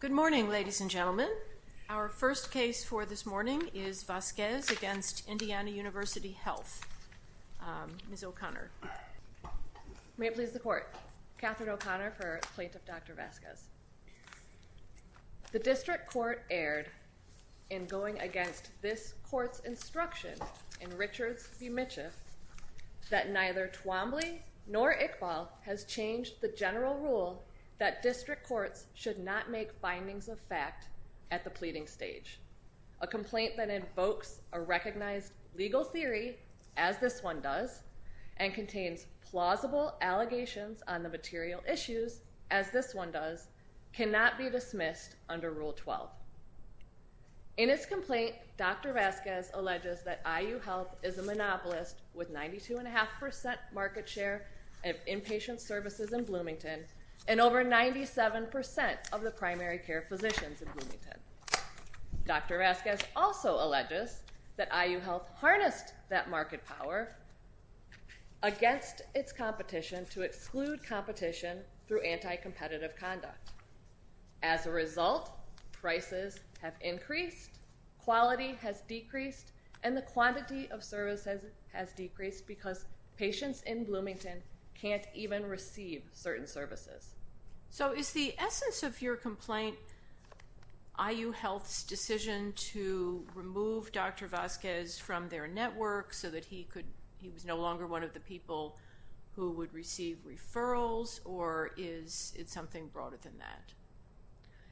Good morning, ladies and gentlemen. Our first case for this morning is Vasquez v. Indiana University Health. Ms. O'Connor. May it please the court. Katherine O'Connor for Plaintiff Dr. Vasquez. The district court erred in going against this court's instruction in Richards v. Mitchiff that neither Twombly nor Iqbal has changed the general rule that district courts should not make findings of fact at the pleading stage. A complaint that invokes a recognized legal theory, as this one does, and contains plausible allegations on the material issues, as this one does, cannot be dismissed under Rule 12. In its complaint, Dr. Vasquez alleges that IU Health is a monopolist with 92.5% market share of inpatient services in Bloomington and over 97% of the primary care physicians in Bloomington. Dr. Vasquez also alleges that IU Health harnessed that market power against its competition to exclude competition through anti-competitive conduct. As a result, prices have increased, quality has decreased, and the quantity of services has decreased because patients in Bloomington can't even receive certain services. So is the essence of your complaint IU Health's decision to remove Dr. Vasquez from their network so that he was no longer one of the people who would receive referrals, or is it something broader than that?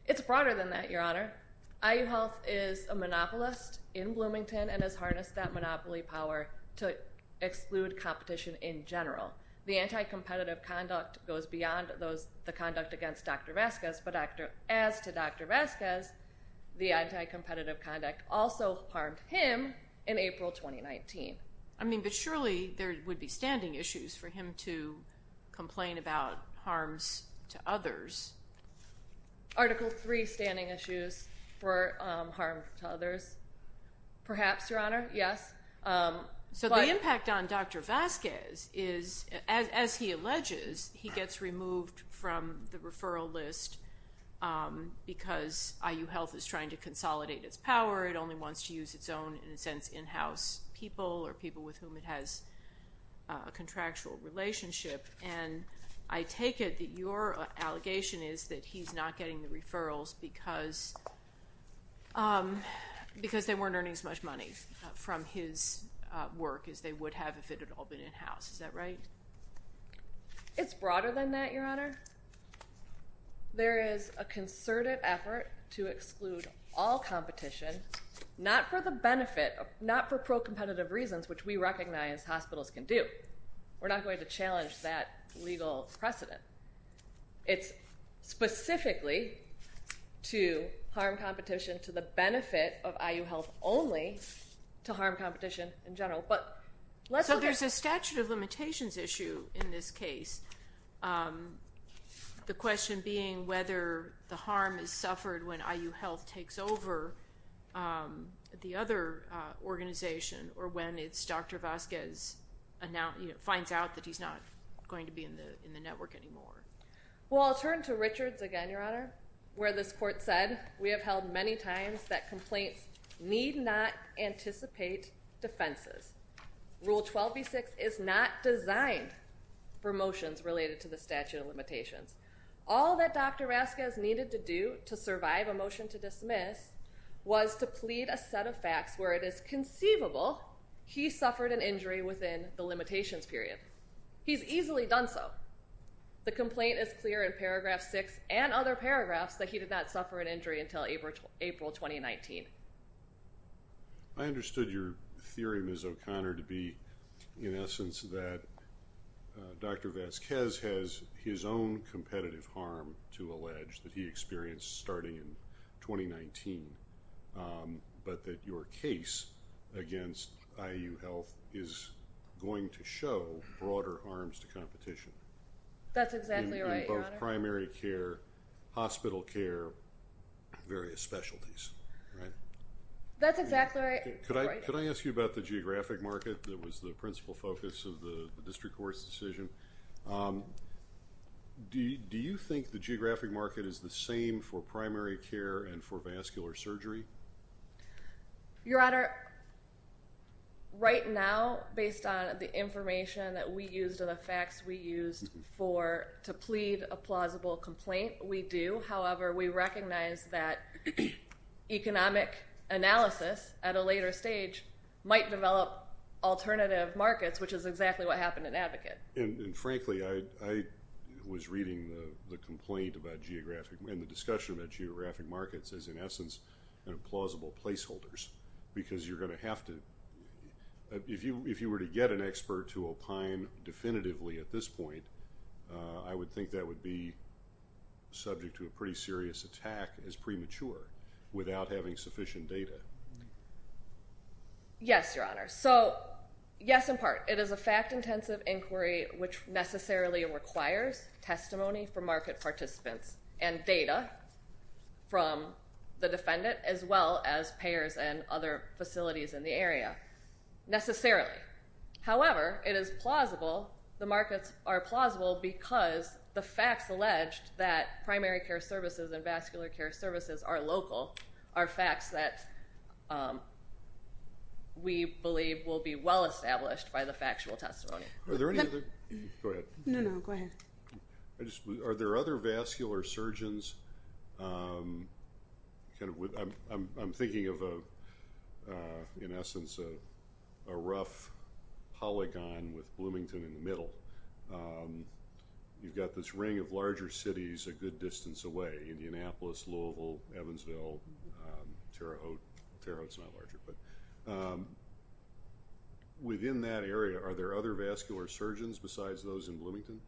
It's broader than that, Your Honor. IU Health is a monopolist in Bloomington and has harnessed that monopoly power to exclude competition in general. The anti-competitive conduct goes beyond the conduct against Dr. Vasquez, but as to Dr. Vasquez, the anti-competitive conduct also harmed him in April 2019. I mean, but surely there would be standing issues for him to complain about or harm to others? Perhaps, Your Honor, yes. So the impact on Dr. Vasquez is, as he alleges, he gets removed from the referral list because IU Health is trying to consolidate its power. It only wants to use its own, in a sense, in-house people or people with whom it has a contractual relationship. And I take it that your allegation is that he's not getting the referrals because they weren't earning as much money from his work as they would have if it had all been in-house. Is that right? It's broader than that, Your Honor. There is a concerted effort to exclude all competition, not for the benefit, not for pro-competitive reasons, which we recognize hospitals can do. We're not going to challenge that legal precedent. It's specifically to harm competition to the benefit of IU Health only to harm competition in general. So there's a statute of limitations issue in this case, the question being whether the harm is suffered when IU Health takes over the other organization or when it's Dr. Vasquez finds out that he's not going to be in the network anymore. Well, I'll turn to Richards again, Your Honor, where this court said, we have held many times that complaints need not anticipate defenses. Rule 12b-6 is not designed for motions related to the statute of limitations. All that Dr. Vasquez needed to do to survive a motion to He suffered an injury within the limitations period. He's easily done so. The complaint is clear in paragraph six and other paragraphs that he did not suffer an injury until April 2019. I understood your theory, Ms. O'Connor, to be in essence that Dr. Vasquez has his own competitive harm to allege that he experienced starting in 2019, but that your case against IU Health is going to show broader arms to competition. That's exactly right, Your Honor. Both primary care, hospital care, various specialties, right? That's exactly right. Could I ask you about the geographic market that was the principal focus of the district court's decision? Do you think the geographic market is the same for primary care and for vascular surgery? Your Honor, right now, based on the information that we used and the facts we used to plead a plausible complaint, we do. However, we recognize that economic analysis at a later stage might develop alternative markets, which is exactly what happened in Advocate. And frankly, I was reading the complaint about geographic and the discussion about geographic markets as, in essence, plausible placeholders because you're going to have to—if you were to get an expert to opine definitively at this point, I would think that would be subject to a pretty serious attack as premature without having sufficient data. Yes, Your Honor. So, yes, in part. It is a fact-intensive inquiry which necessarily requires testimony from market participants and data from the defendant as well as payers and other facilities in the area, necessarily. However, it is plausible—the markets are plausible because the facts alleged that primary care services and vascular care services are local are facts that we believe will be well established by the factual testimony. Are there any other—go ahead. No, no, go ahead. I just—are there other vascular surgeons—I'm thinking of, in essence, a rough polygon with Bloomington in the middle. You've got this ring of larger cities a good distance away—Indianapolis, Louisville, Evansville, Terre Haute—Terre Haute's not larger, but—within that area, are there other vascular surgeons besides those in Bloomington?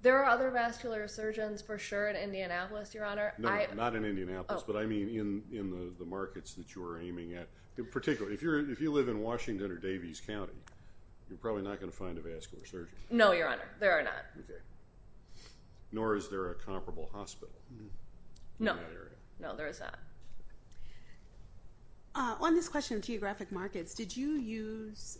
There are other vascular surgeons, for sure, in Indianapolis, Your Honor. No, not in Indianapolis, but I mean in the markets that you are aiming at. In particular, if you live in Washington or Davies County, you're probably not going to find a vascular surgeon. No, Your Honor, there are not. Nor is there a comparable hospital in that area. No, no, there is not. On this question of geographic markets, did you use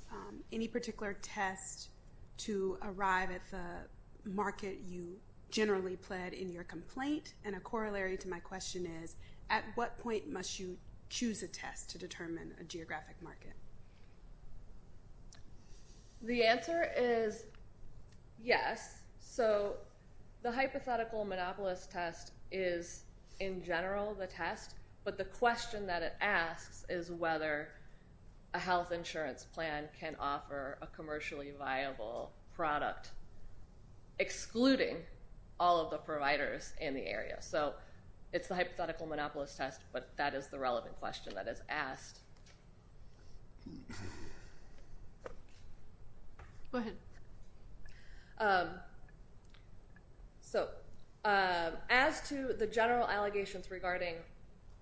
any particular test to arrive at the market you generally pled in your complaint? And a corollary to my question is, at what point must you choose a test to determine a geographic market? The answer is yes. So the hypothetical monopolist test is, in general, the test, but the question that it asks is whether a health insurance plan can offer a commercially viable product. Excluding all of the providers in the area. So it's the hypothetical monopolist test, but that is the relevant question that is asked. Go ahead. So as to the general allegations regarding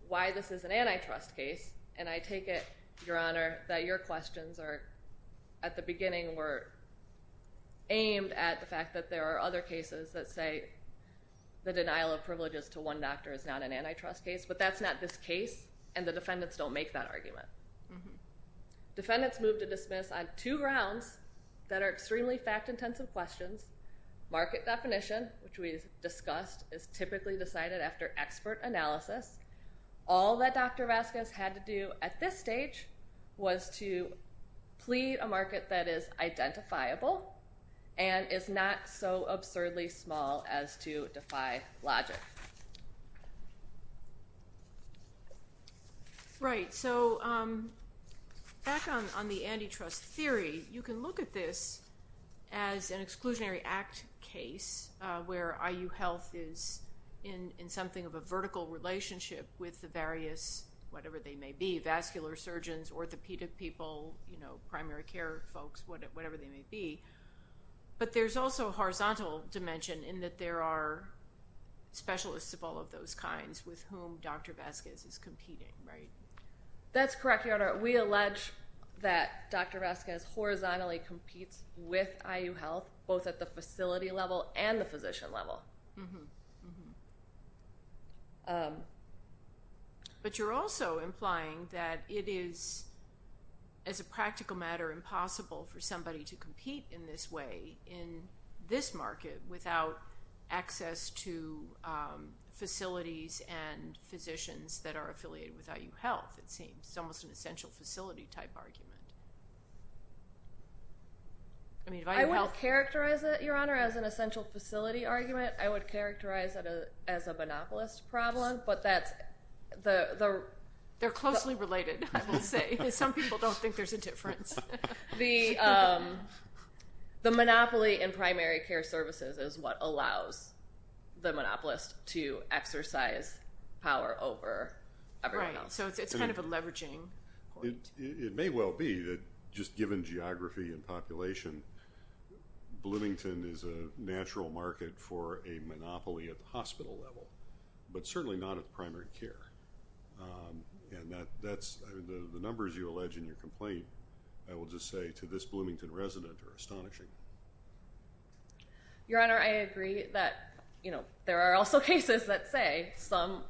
why this is an antitrust case, and I take it, Your Honor, that your questions are, at the beginning, were aimed at the fact that there are other cases that say the denial of privileges to one doctor is not an antitrust case, but that's not this case, and the defendants don't make that argument. Defendants moved to dismiss on two grounds that are extremely fact-intensive questions. Market definition, which we discussed, is typically decided after expert analysis. All that Dr. Vasquez had to do at this stage was to plead a market that is identifiable and is not so absurdly small as to defy logic. Right. So back on the antitrust theory, you can look at this as an exclusionary act case where IU Health is in something of a vertical relationship with the various, whatever they may be, vascular surgeons, orthopedic people, primary care folks, whatever they may be, but there's also a horizontal dimension in that there are specialists of all of those kinds with whom Dr. Vasquez is competing, right? That's correct, Your Honor. We allege that Dr. Vasquez horizontally competes with IU Health, both at the facility level and the physician level. Mm-hmm, mm-hmm. But you're also implying that it is, as a practical matter, impossible for somebody to compete in this way in this market without access to facilities and physicians that are affiliated with IU Health, it seems. It's almost an essential facility-type argument. I mean, if IU Health— I wouldn't characterize it, Your Honor, as an essential facility argument. I would characterize it as a monopolist problem, but that's— They're closely related, I will say. Some people don't think there's a difference. The monopoly in primary care services is what allows the monopolist to exercise power over everyone else. Right, so it's kind of a leveraging point. It may well be that, just given geography and population, Bloomington is a natural market for a monopoly at the hospital level, but certainly not at the primary care. And the numbers you allege in your complaint, I will just say, to this Bloomington resident are astonishing. Your Honor, I agree that there are also cases that say some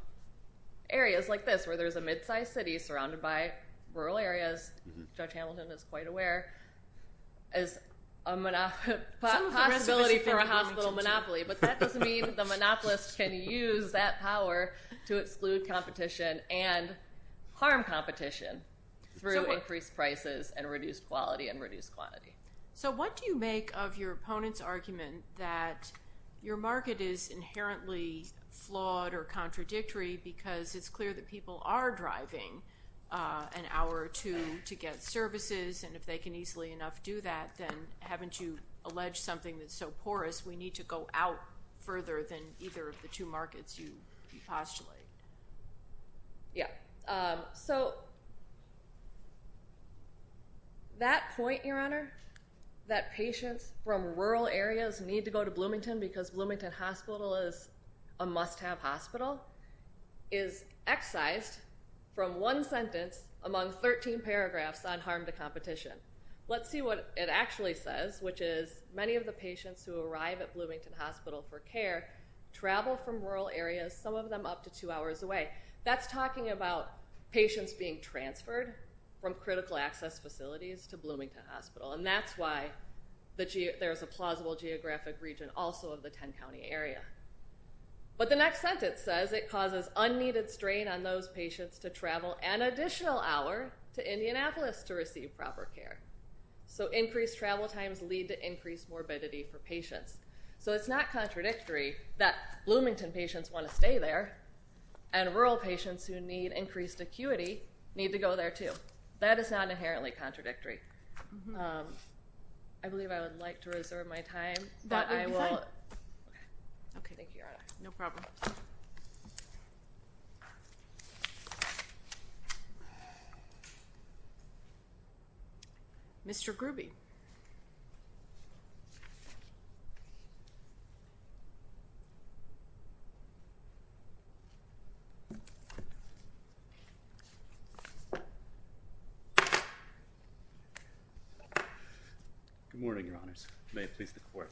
areas like this, where there's a mid-sized city surrounded by rural areas— Mm-hmm. Judge Hamilton is quite aware— Possibility for a hospital monopoly, but that doesn't mean the monopolist can use that power to exclude competition and harm competition through increased prices and reduced quality and reduced quantity. So what do you make of your opponent's argument that your market is inherently flawed or contradictory because it's clear that people are driving an hour or two to get services, and if they can easily enough do that, then haven't you alleged something that's so porous, we need to go out further than either of the two markets you postulate? Yeah. So that point, Your Honor, that patients from rural areas need to go to Bloomington because Bloomington Hospital is a must-have hospital, is excised from one sentence among 13 paragraphs on harm to competition. Let's see what it actually says, which is many of the patients who arrive at Bloomington Hospital for care travel from rural areas, some of them up to two hours away. That's talking about patients being transferred from critical access facilities to Bloomington Hospital, and that's why there's a plausible geographic region also of the 10-county area. But the next sentence says it causes unneeded strain on those patients to travel an additional hour to Indianapolis to receive proper care. So increased travel times lead to increased morbidity for patients. So it's not contradictory that Bloomington patients want to stay there, and rural patients who need increased acuity need to go there too. That is not inherently contradictory. I believe I would like to reserve my time, but I will... Okay, thank you, Your Honor. No problem. Mr. Grubbe. Good morning, Your Honors. May it please the Court.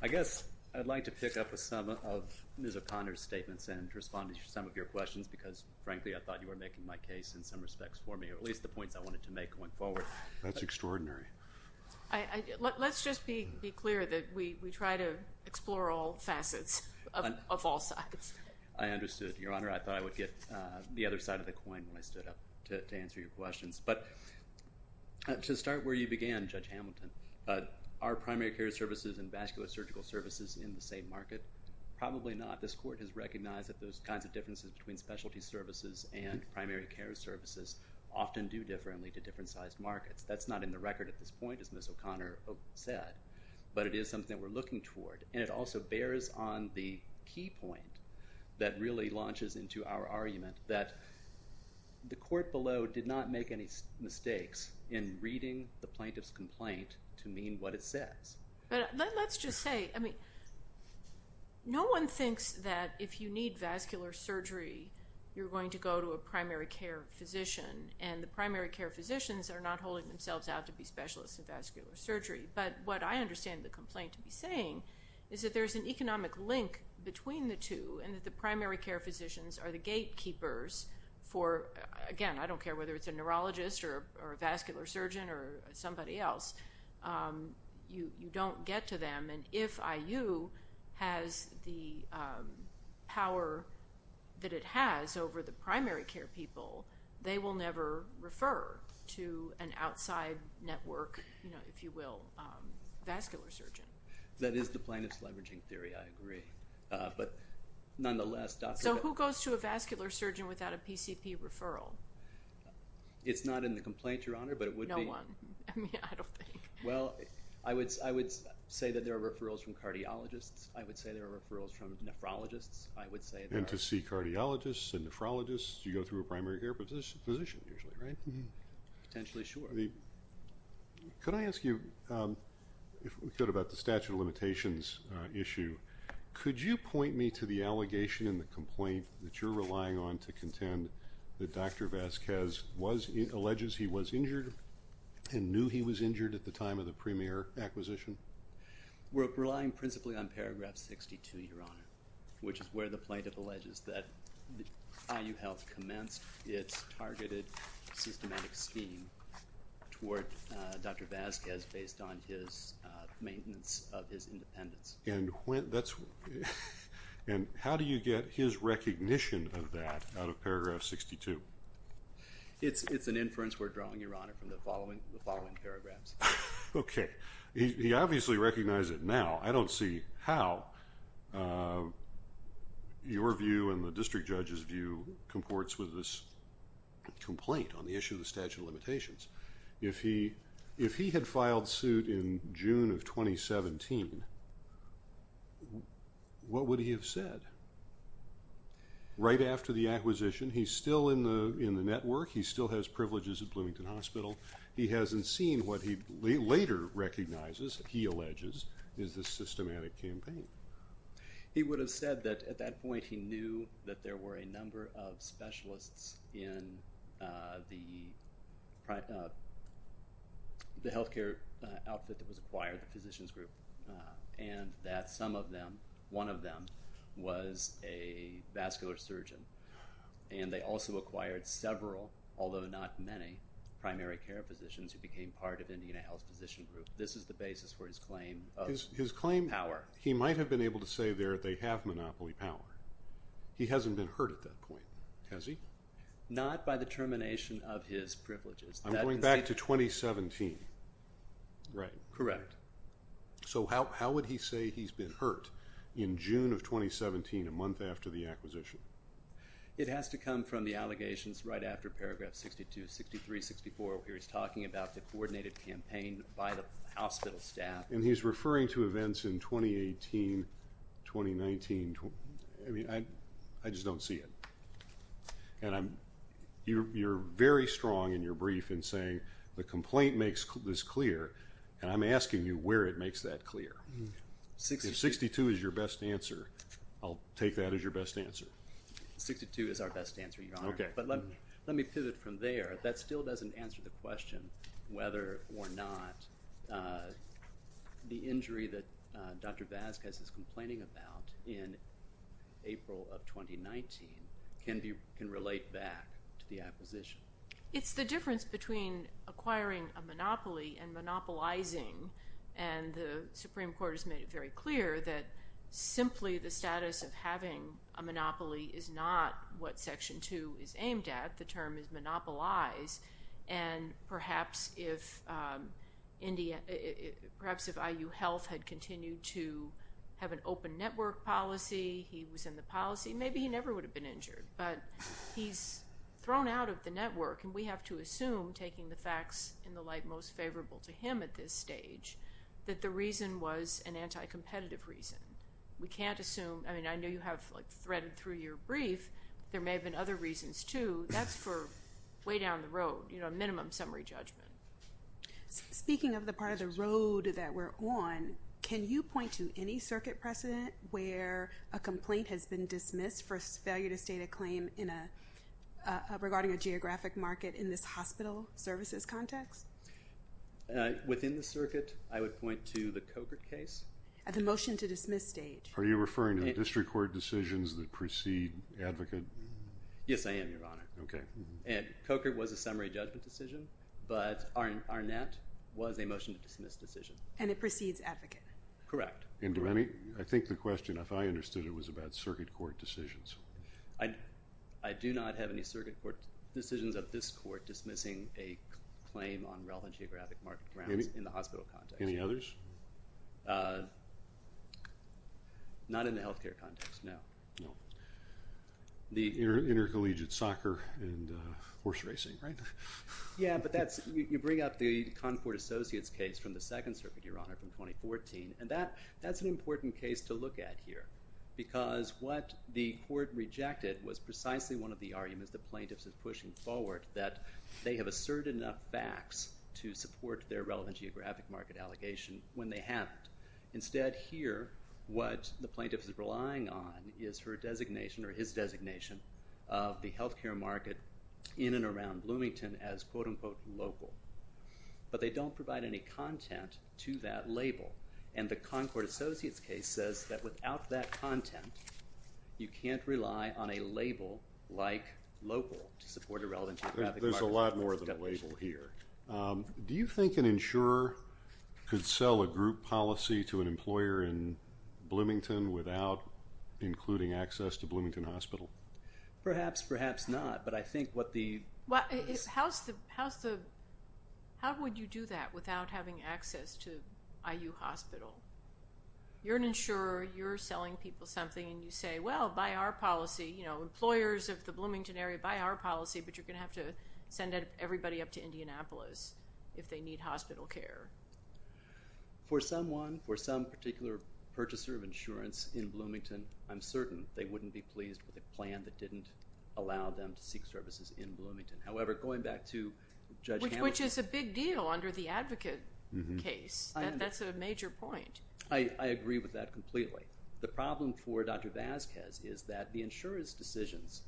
I guess I'd like to pick up some of Ms. O'Connor's statements and respond to some of your questions because, frankly, I thought you were making my case in some respect. At least the points I wanted to make going forward. That's extraordinary. Let's just be clear that we try to explore all facets of all sides. I understood, Your Honor. I thought I would get the other side of the coin when I stood up to answer your questions. To start where you began, Judge Hamilton, are primary care services and vascular surgical services in the same market? Probably not. This Court has recognized that those kinds of differences between specialty services and primary care services often do differently to different sized markets. That's not in the record at this point, as Ms. O'Connor said, but it is something that we're looking toward. And it also bears on the key point that really launches into our argument that the Court below did not make any mistakes in reading the plaintiff's complaint to mean what it says. But let's just say... No one thinks that if you need vascular surgery, you're going to go to a primary care physician. And the primary care physicians are not holding themselves out to be specialists in vascular surgery. But what I understand the complaint to be saying is that there's an economic link between the two and that the primary care physicians are the gatekeepers for, again, I don't care whether it's a neurologist or a vascular surgeon or somebody else, you don't get to them. And if IU has the power that it has over the primary care people, they will never refer to an outside network, if you will, vascular surgeon. That is the plaintiff's leveraging theory, I agree. But nonetheless... So who goes to a vascular surgeon without a PCP referral? It's not in the complaint, Your Honor, but it would be... No one. I mean, I don't think... Well, I would say that there are referrals from cardiologists. I would say there are referrals from nephrologists. I would say... And to see cardiologists and nephrologists, you go through a primary care physician, usually, right? Potentially, sure. Could I ask you, if we could, about the statute of limitations issue. Could you point me to the allegation in the complaint that you're relying on to contend that Dr. Vazquez alleges he was injured and knew he was injured at the time of the premier acquisition? We're relying principally on paragraph 62, Your Honor, which is where the plaintiff alleges that IU Health commenced its targeted systematic scheme toward Dr. Vazquez based on his maintenance of his independence. And that's... And how do you get his recognition of that out of paragraph 62? It's an inference we're drawing, Your Honor, from the following paragraphs. Okay. He obviously recognized it now. I don't see how your view and the district judge's view comports with this complaint on the issue of the statute of limitations. If he had filed suit in June of 2017, what would he have said? Right after the acquisition, he's still in the network. He still has privileges at Bloomington Hospital. He hasn't seen what he later recognizes, he alleges, is the systematic campaign. He would have said that at that point, he knew that there were a number of specialists in the healthcare outfit that was acquired, the physicians group, and that some of them, one of them was a vascular surgeon. And they also acquired several, although not many, primary care physicians who became part of Indiana Health's physician group. This is the basis for his claim of power. He might have been able to say there they have monopoly power. He hasn't been heard at that point, has he? Not by the termination of his privileges. I'm going back to 2017, right? Correct. So how would he say he's been hurt in June of 2017, a month after the acquisition? It has to come from the allegations right after paragraph 62, 63, 64, where he's talking about the coordinated campaign by the hospital staff. And he's referring to events in 2018, 2019. I mean, I just don't see it. And you're very strong in your brief in saying the complaint makes this clear. And I'm asking you where it makes that clear. If 62 is your best answer, I'll take that as your best answer. 62 is our best answer, Your Honor. Okay. But let me pivot from there. That still doesn't answer the question whether or not the injury that Dr. Vasquez is complaining about in April of 2019 can relate back to the acquisition. It's the difference between acquiring a monopoly and monopolizing. And the Supreme Court has made it very clear that simply the status of having a monopoly is not what Section 2 is aimed at. The term is monopolize. And perhaps if IU Health had continued to have an open network policy, he was in the policy, maybe he never would have been injured. But he's thrown out of the network. And we have to assume, taking the facts in the light most favorable to him at this stage, that the reason was an anti-competitive reason. We can't assume. I mean, I know you have like threaded through your brief. There may have been other reasons too. That's for way down the road, you know, minimum summary judgment. Speaking of the part of the road that we're on, can you point to any circuit precedent where a complaint has been dismissed for failure to state a claim in a, regarding a geographic market in this hospital services context? Within the circuit, I would point to the Cogart case. At the motion to dismiss stage. Are you referring to the district court decisions that precede advocate? Yes, I am, Your Honor. And Cogart was a summary judgment decision. But Arnett was a motion to dismiss decision. And it precedes advocate. Correct. And do any, I think the question if I understood it was about circuit court decisions. I do not have any circuit court decisions of this court dismissing a claim on relevant geographic market grounds in the hospital context. Any others? Not in the healthcare context, no. No. The intercollegiate soccer and horse racing, right? Yeah, but that's, you bring up the Concord Associates case from the Second Circuit, Your Honor, from 2014. And that's an important case to look at here. Because what the court rejected was precisely one of the arguments the plaintiff is pushing forward that they have asserted enough facts to support their relevant geographic market allegation when they haven't. Instead here, what the plaintiff is relying on is her designation or his designation of the healthcare market in and around Bloomington as, quote unquote, local. But they don't provide any content to that label. And the Concord Associates case says that without that content, you can't rely on a label like local to support a relevant geographic market. There's a lot more than a label here. Do you think an insurer could sell a group policy to an employer in Bloomington without including access to Bloomington Hospital? Perhaps, perhaps not. But I think what the... How would you do that without having access to IU Hospital? You're an insurer. You're selling people something. And you say, well, by our policy, you know, employers of the Bloomington area, by our policy, but you're going to have to send everybody up to Indianapolis if they need hospital care. For someone, for some particular purchaser of insurance in Bloomington, I'm certain they wouldn't be pleased with a plan that didn't allow them to seek services in Bloomington. However, going back to Judge Hamilton... Which is a big deal under the advocate case. That's a major point. I agree with that completely. The problem for Dr. Vasquez is that the insurer's decisions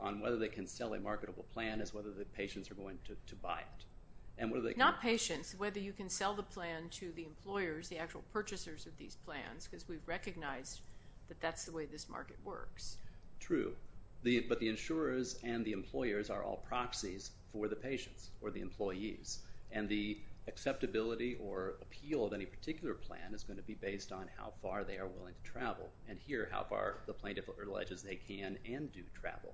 on whether they can sell a marketable plan is whether the patients are going to buy it. Not patients. Whether you can sell the plan to the employers, the actual purchasers of these plans, because we've recognized that that's the way this market works. True. But the insurers and the employers are all proxies for the patients or the employees. And the acceptability or appeal of any particular plan is going to be based on how far they are willing to travel. And here, how far the plaintiff alleges they can and do travel.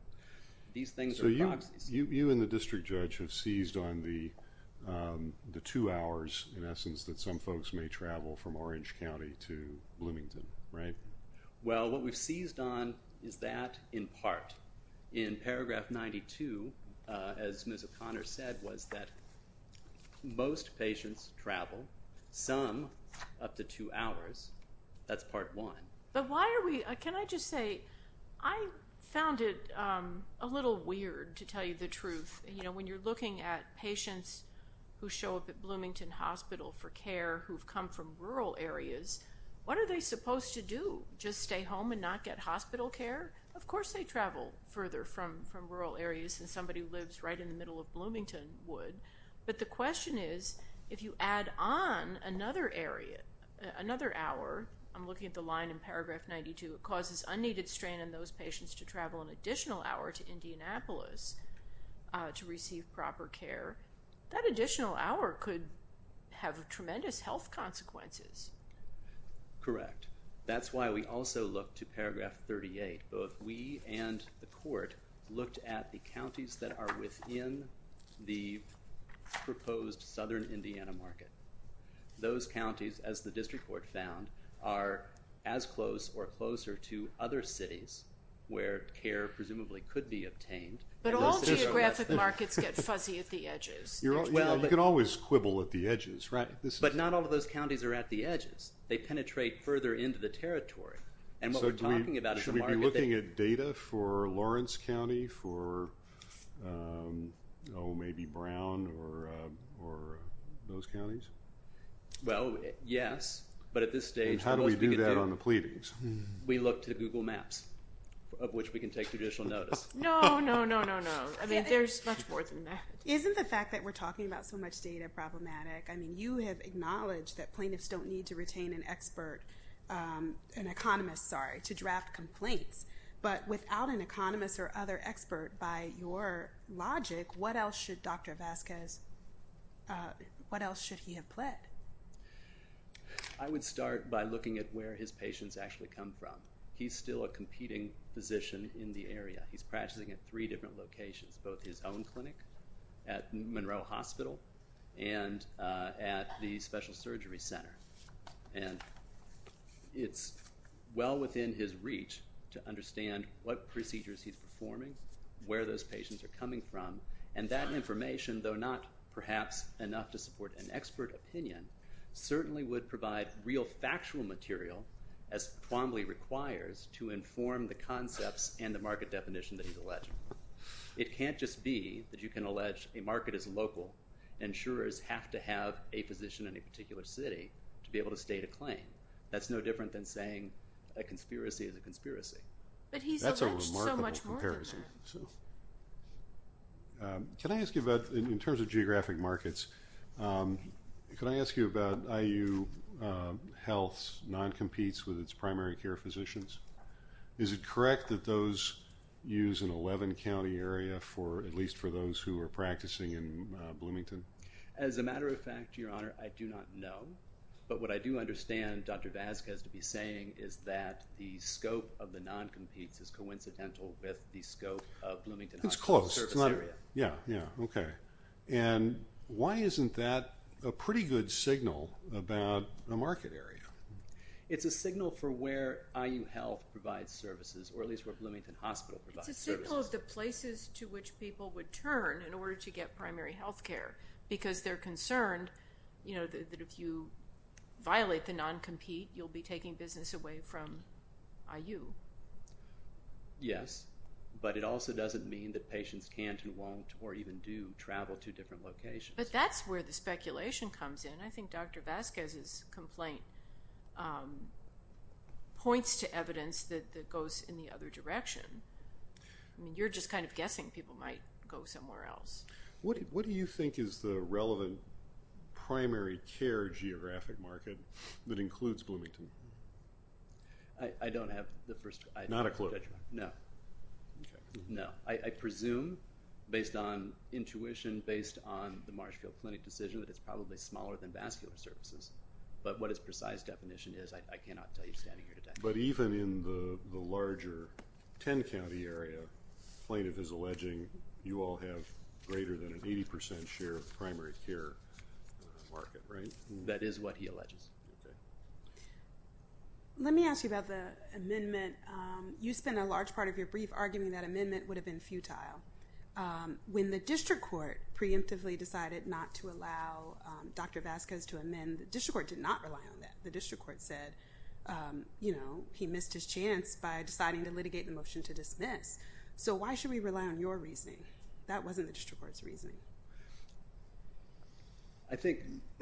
These things are proxies. You and the district judge have seized on the two hours, in essence, that some folks may travel from Orange County to Bloomington, right? Well, what we've seized on is that in part. In paragraph 92, as Ms. O'Connor said, was that most patients travel, some up to two hours. That's part one. But why are we... Can I just say, I found it a little weird to tell you the truth. You know, when you're looking at patients who show up at Bloomington Hospital for care, who've come from rural areas, what are they supposed to do? Just stay home and not get hospital care? Of course, they travel further from rural areas and somebody who lives right in the middle of Bloomington would. But the question is, if you add on another area, another hour, I'm looking at the line in paragraph 92, it causes unneeded strain in those patients to travel an additional hour to Indianapolis to receive proper care. That additional hour could have tremendous health consequences. Correct. That's why we also look to paragraph 38. Both we and the court looked at the counties that are within the proposed Southern Indiana market. Those counties, as the district court found, are as close or closer to other cities where care presumably could be obtained. But all geographic markets get fuzzy at the edges. Yeah, you can always quibble at the edges, right? But not all of those counties are at the edges. They penetrate further into the territory. And what we're talking about is the market that- Should we be looking at data for Lawrence County, for, oh, maybe Brown or those counties? Well, yes. But at this stage- How do we do that on the pleadings? We look to Google Maps. Of which we can take judicial notice. No, no, no, no, no. I mean, there's much more than that. Isn't the fact that we're talking about so much data problematic? I mean, you have acknowledged that plaintiffs don't need to retain an expert, an economist, sorry, to draft complaints. But without an economist or other expert, by your logic, what else should Dr. Vasquez, what else should he have pled? I would start by looking at where his patients actually come from. He's still a competing physician in the area. He's practicing at three different locations, both his own clinic at Monroe Hospital and at the Special Surgery Center. And it's well within his reach to understand what procedures he's performing, where those patients are coming from. And that information, though not perhaps enough to support an expert opinion, certainly would provide real factual material as Twombly requires to inform the concepts and the market definition that he's alleging. It can't just be that you can allege a market is local and insurers have to have a physician in a particular city to be able to state a claim. That's no different than saying a conspiracy is a conspiracy. But he's alleged so much more than that. Can I ask you about, in terms of geographic markets, can I ask you about IU Health's non-competes with its primary care physicians? Is it correct that those use an 11-county area for at least for those who are practicing in Bloomington? As a matter of fact, Your Honor, I do not know. But what I do understand Dr. Vazquez to be saying is that the scope of the non-competes is coincidental with the scope of Bloomington Hospital. It's close. It's not, yeah, yeah. And why isn't that a pretty good signal about a market area? It's a signal for where IU Health provides services or at least where Bloomington Hospital provides services. It's a signal of the places to which people would turn in order to get primary health care because they're concerned that if you violate the non-compete, you'll be taking business away from IU. Yes, but it also doesn't mean that patients can't or even do travel to different locations. But that's where the speculation comes in. I think Dr. Vazquez's complaint points to evidence that goes in the other direction. I mean, you're just kind of guessing people might go somewhere else. What do you think is the relevant primary care geographic market that includes Bloomington? I don't have the first. Not a clue. No. Okay. No, I presume based on intuition, based on the Marshfield Clinic decision that it's probably smaller than vascular services. But what his precise definition is, I cannot tell you standing here today. But even in the larger 10 county area, plaintiff is alleging you all have greater than an 80% share of the primary care market, right? That is what he alleges. Let me ask you about the amendment. You spent a large part of your brief arguing that amendment would have been futile. When the district court preemptively decided not to allow Dr. Vazquez to amend, the district court did not rely on that. The district court said, he missed his chance by deciding to litigate the motion to dismiss. So why should we rely on your reasoning? That wasn't the district court's reasoning. I think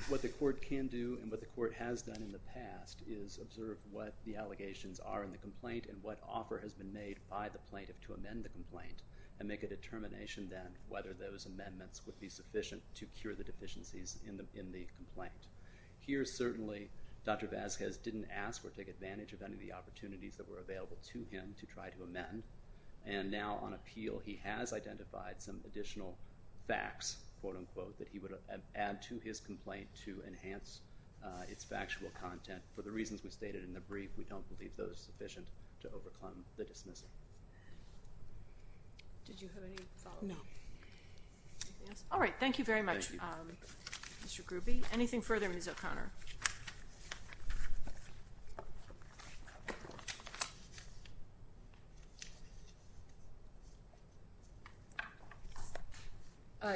what the court can do and what the court has done in the past is observe what the allegations are in the complaint and what offer has been made by the plaintiff to amend the complaint and make a determination then whether those amendments would be sufficient to cure the deficiencies in the complaint. Here, certainly, Dr. Vazquez didn't ask or take advantage of any of the opportunities that were available to him to try to amend. And now on appeal, he has identified some additional facts, quote unquote, that he would add to his complaint to enhance its factual content. For the reasons we stated in the brief, we don't believe those sufficient to overcome the dismissal. Did you have any follow-up? No. All right, thank you very much, Mr. Grube. Anything further, Ms. O'Connor?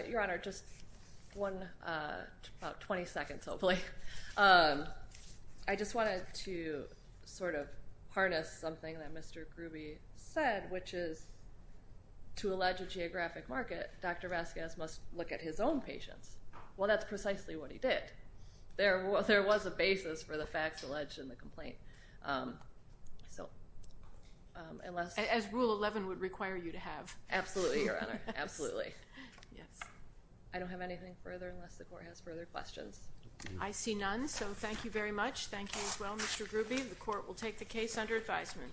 Your Honor, just one, about 20 seconds, hopefully. I just wanted to sort of harness something that Mr. Grube said, which is, to allege a geographic market, Dr. Vazquez must look at his own patients. Well, that's precisely what he did. was looking at his own patients. There was a basis for the facts alleged in the complaint. As Rule 11 would require you to have. Absolutely, Your Honor, absolutely. I don't have anything further, unless the court has further questions. I see none, so thank you very much. Thank you as well, Mr. Grube. The court will take the case under advisement.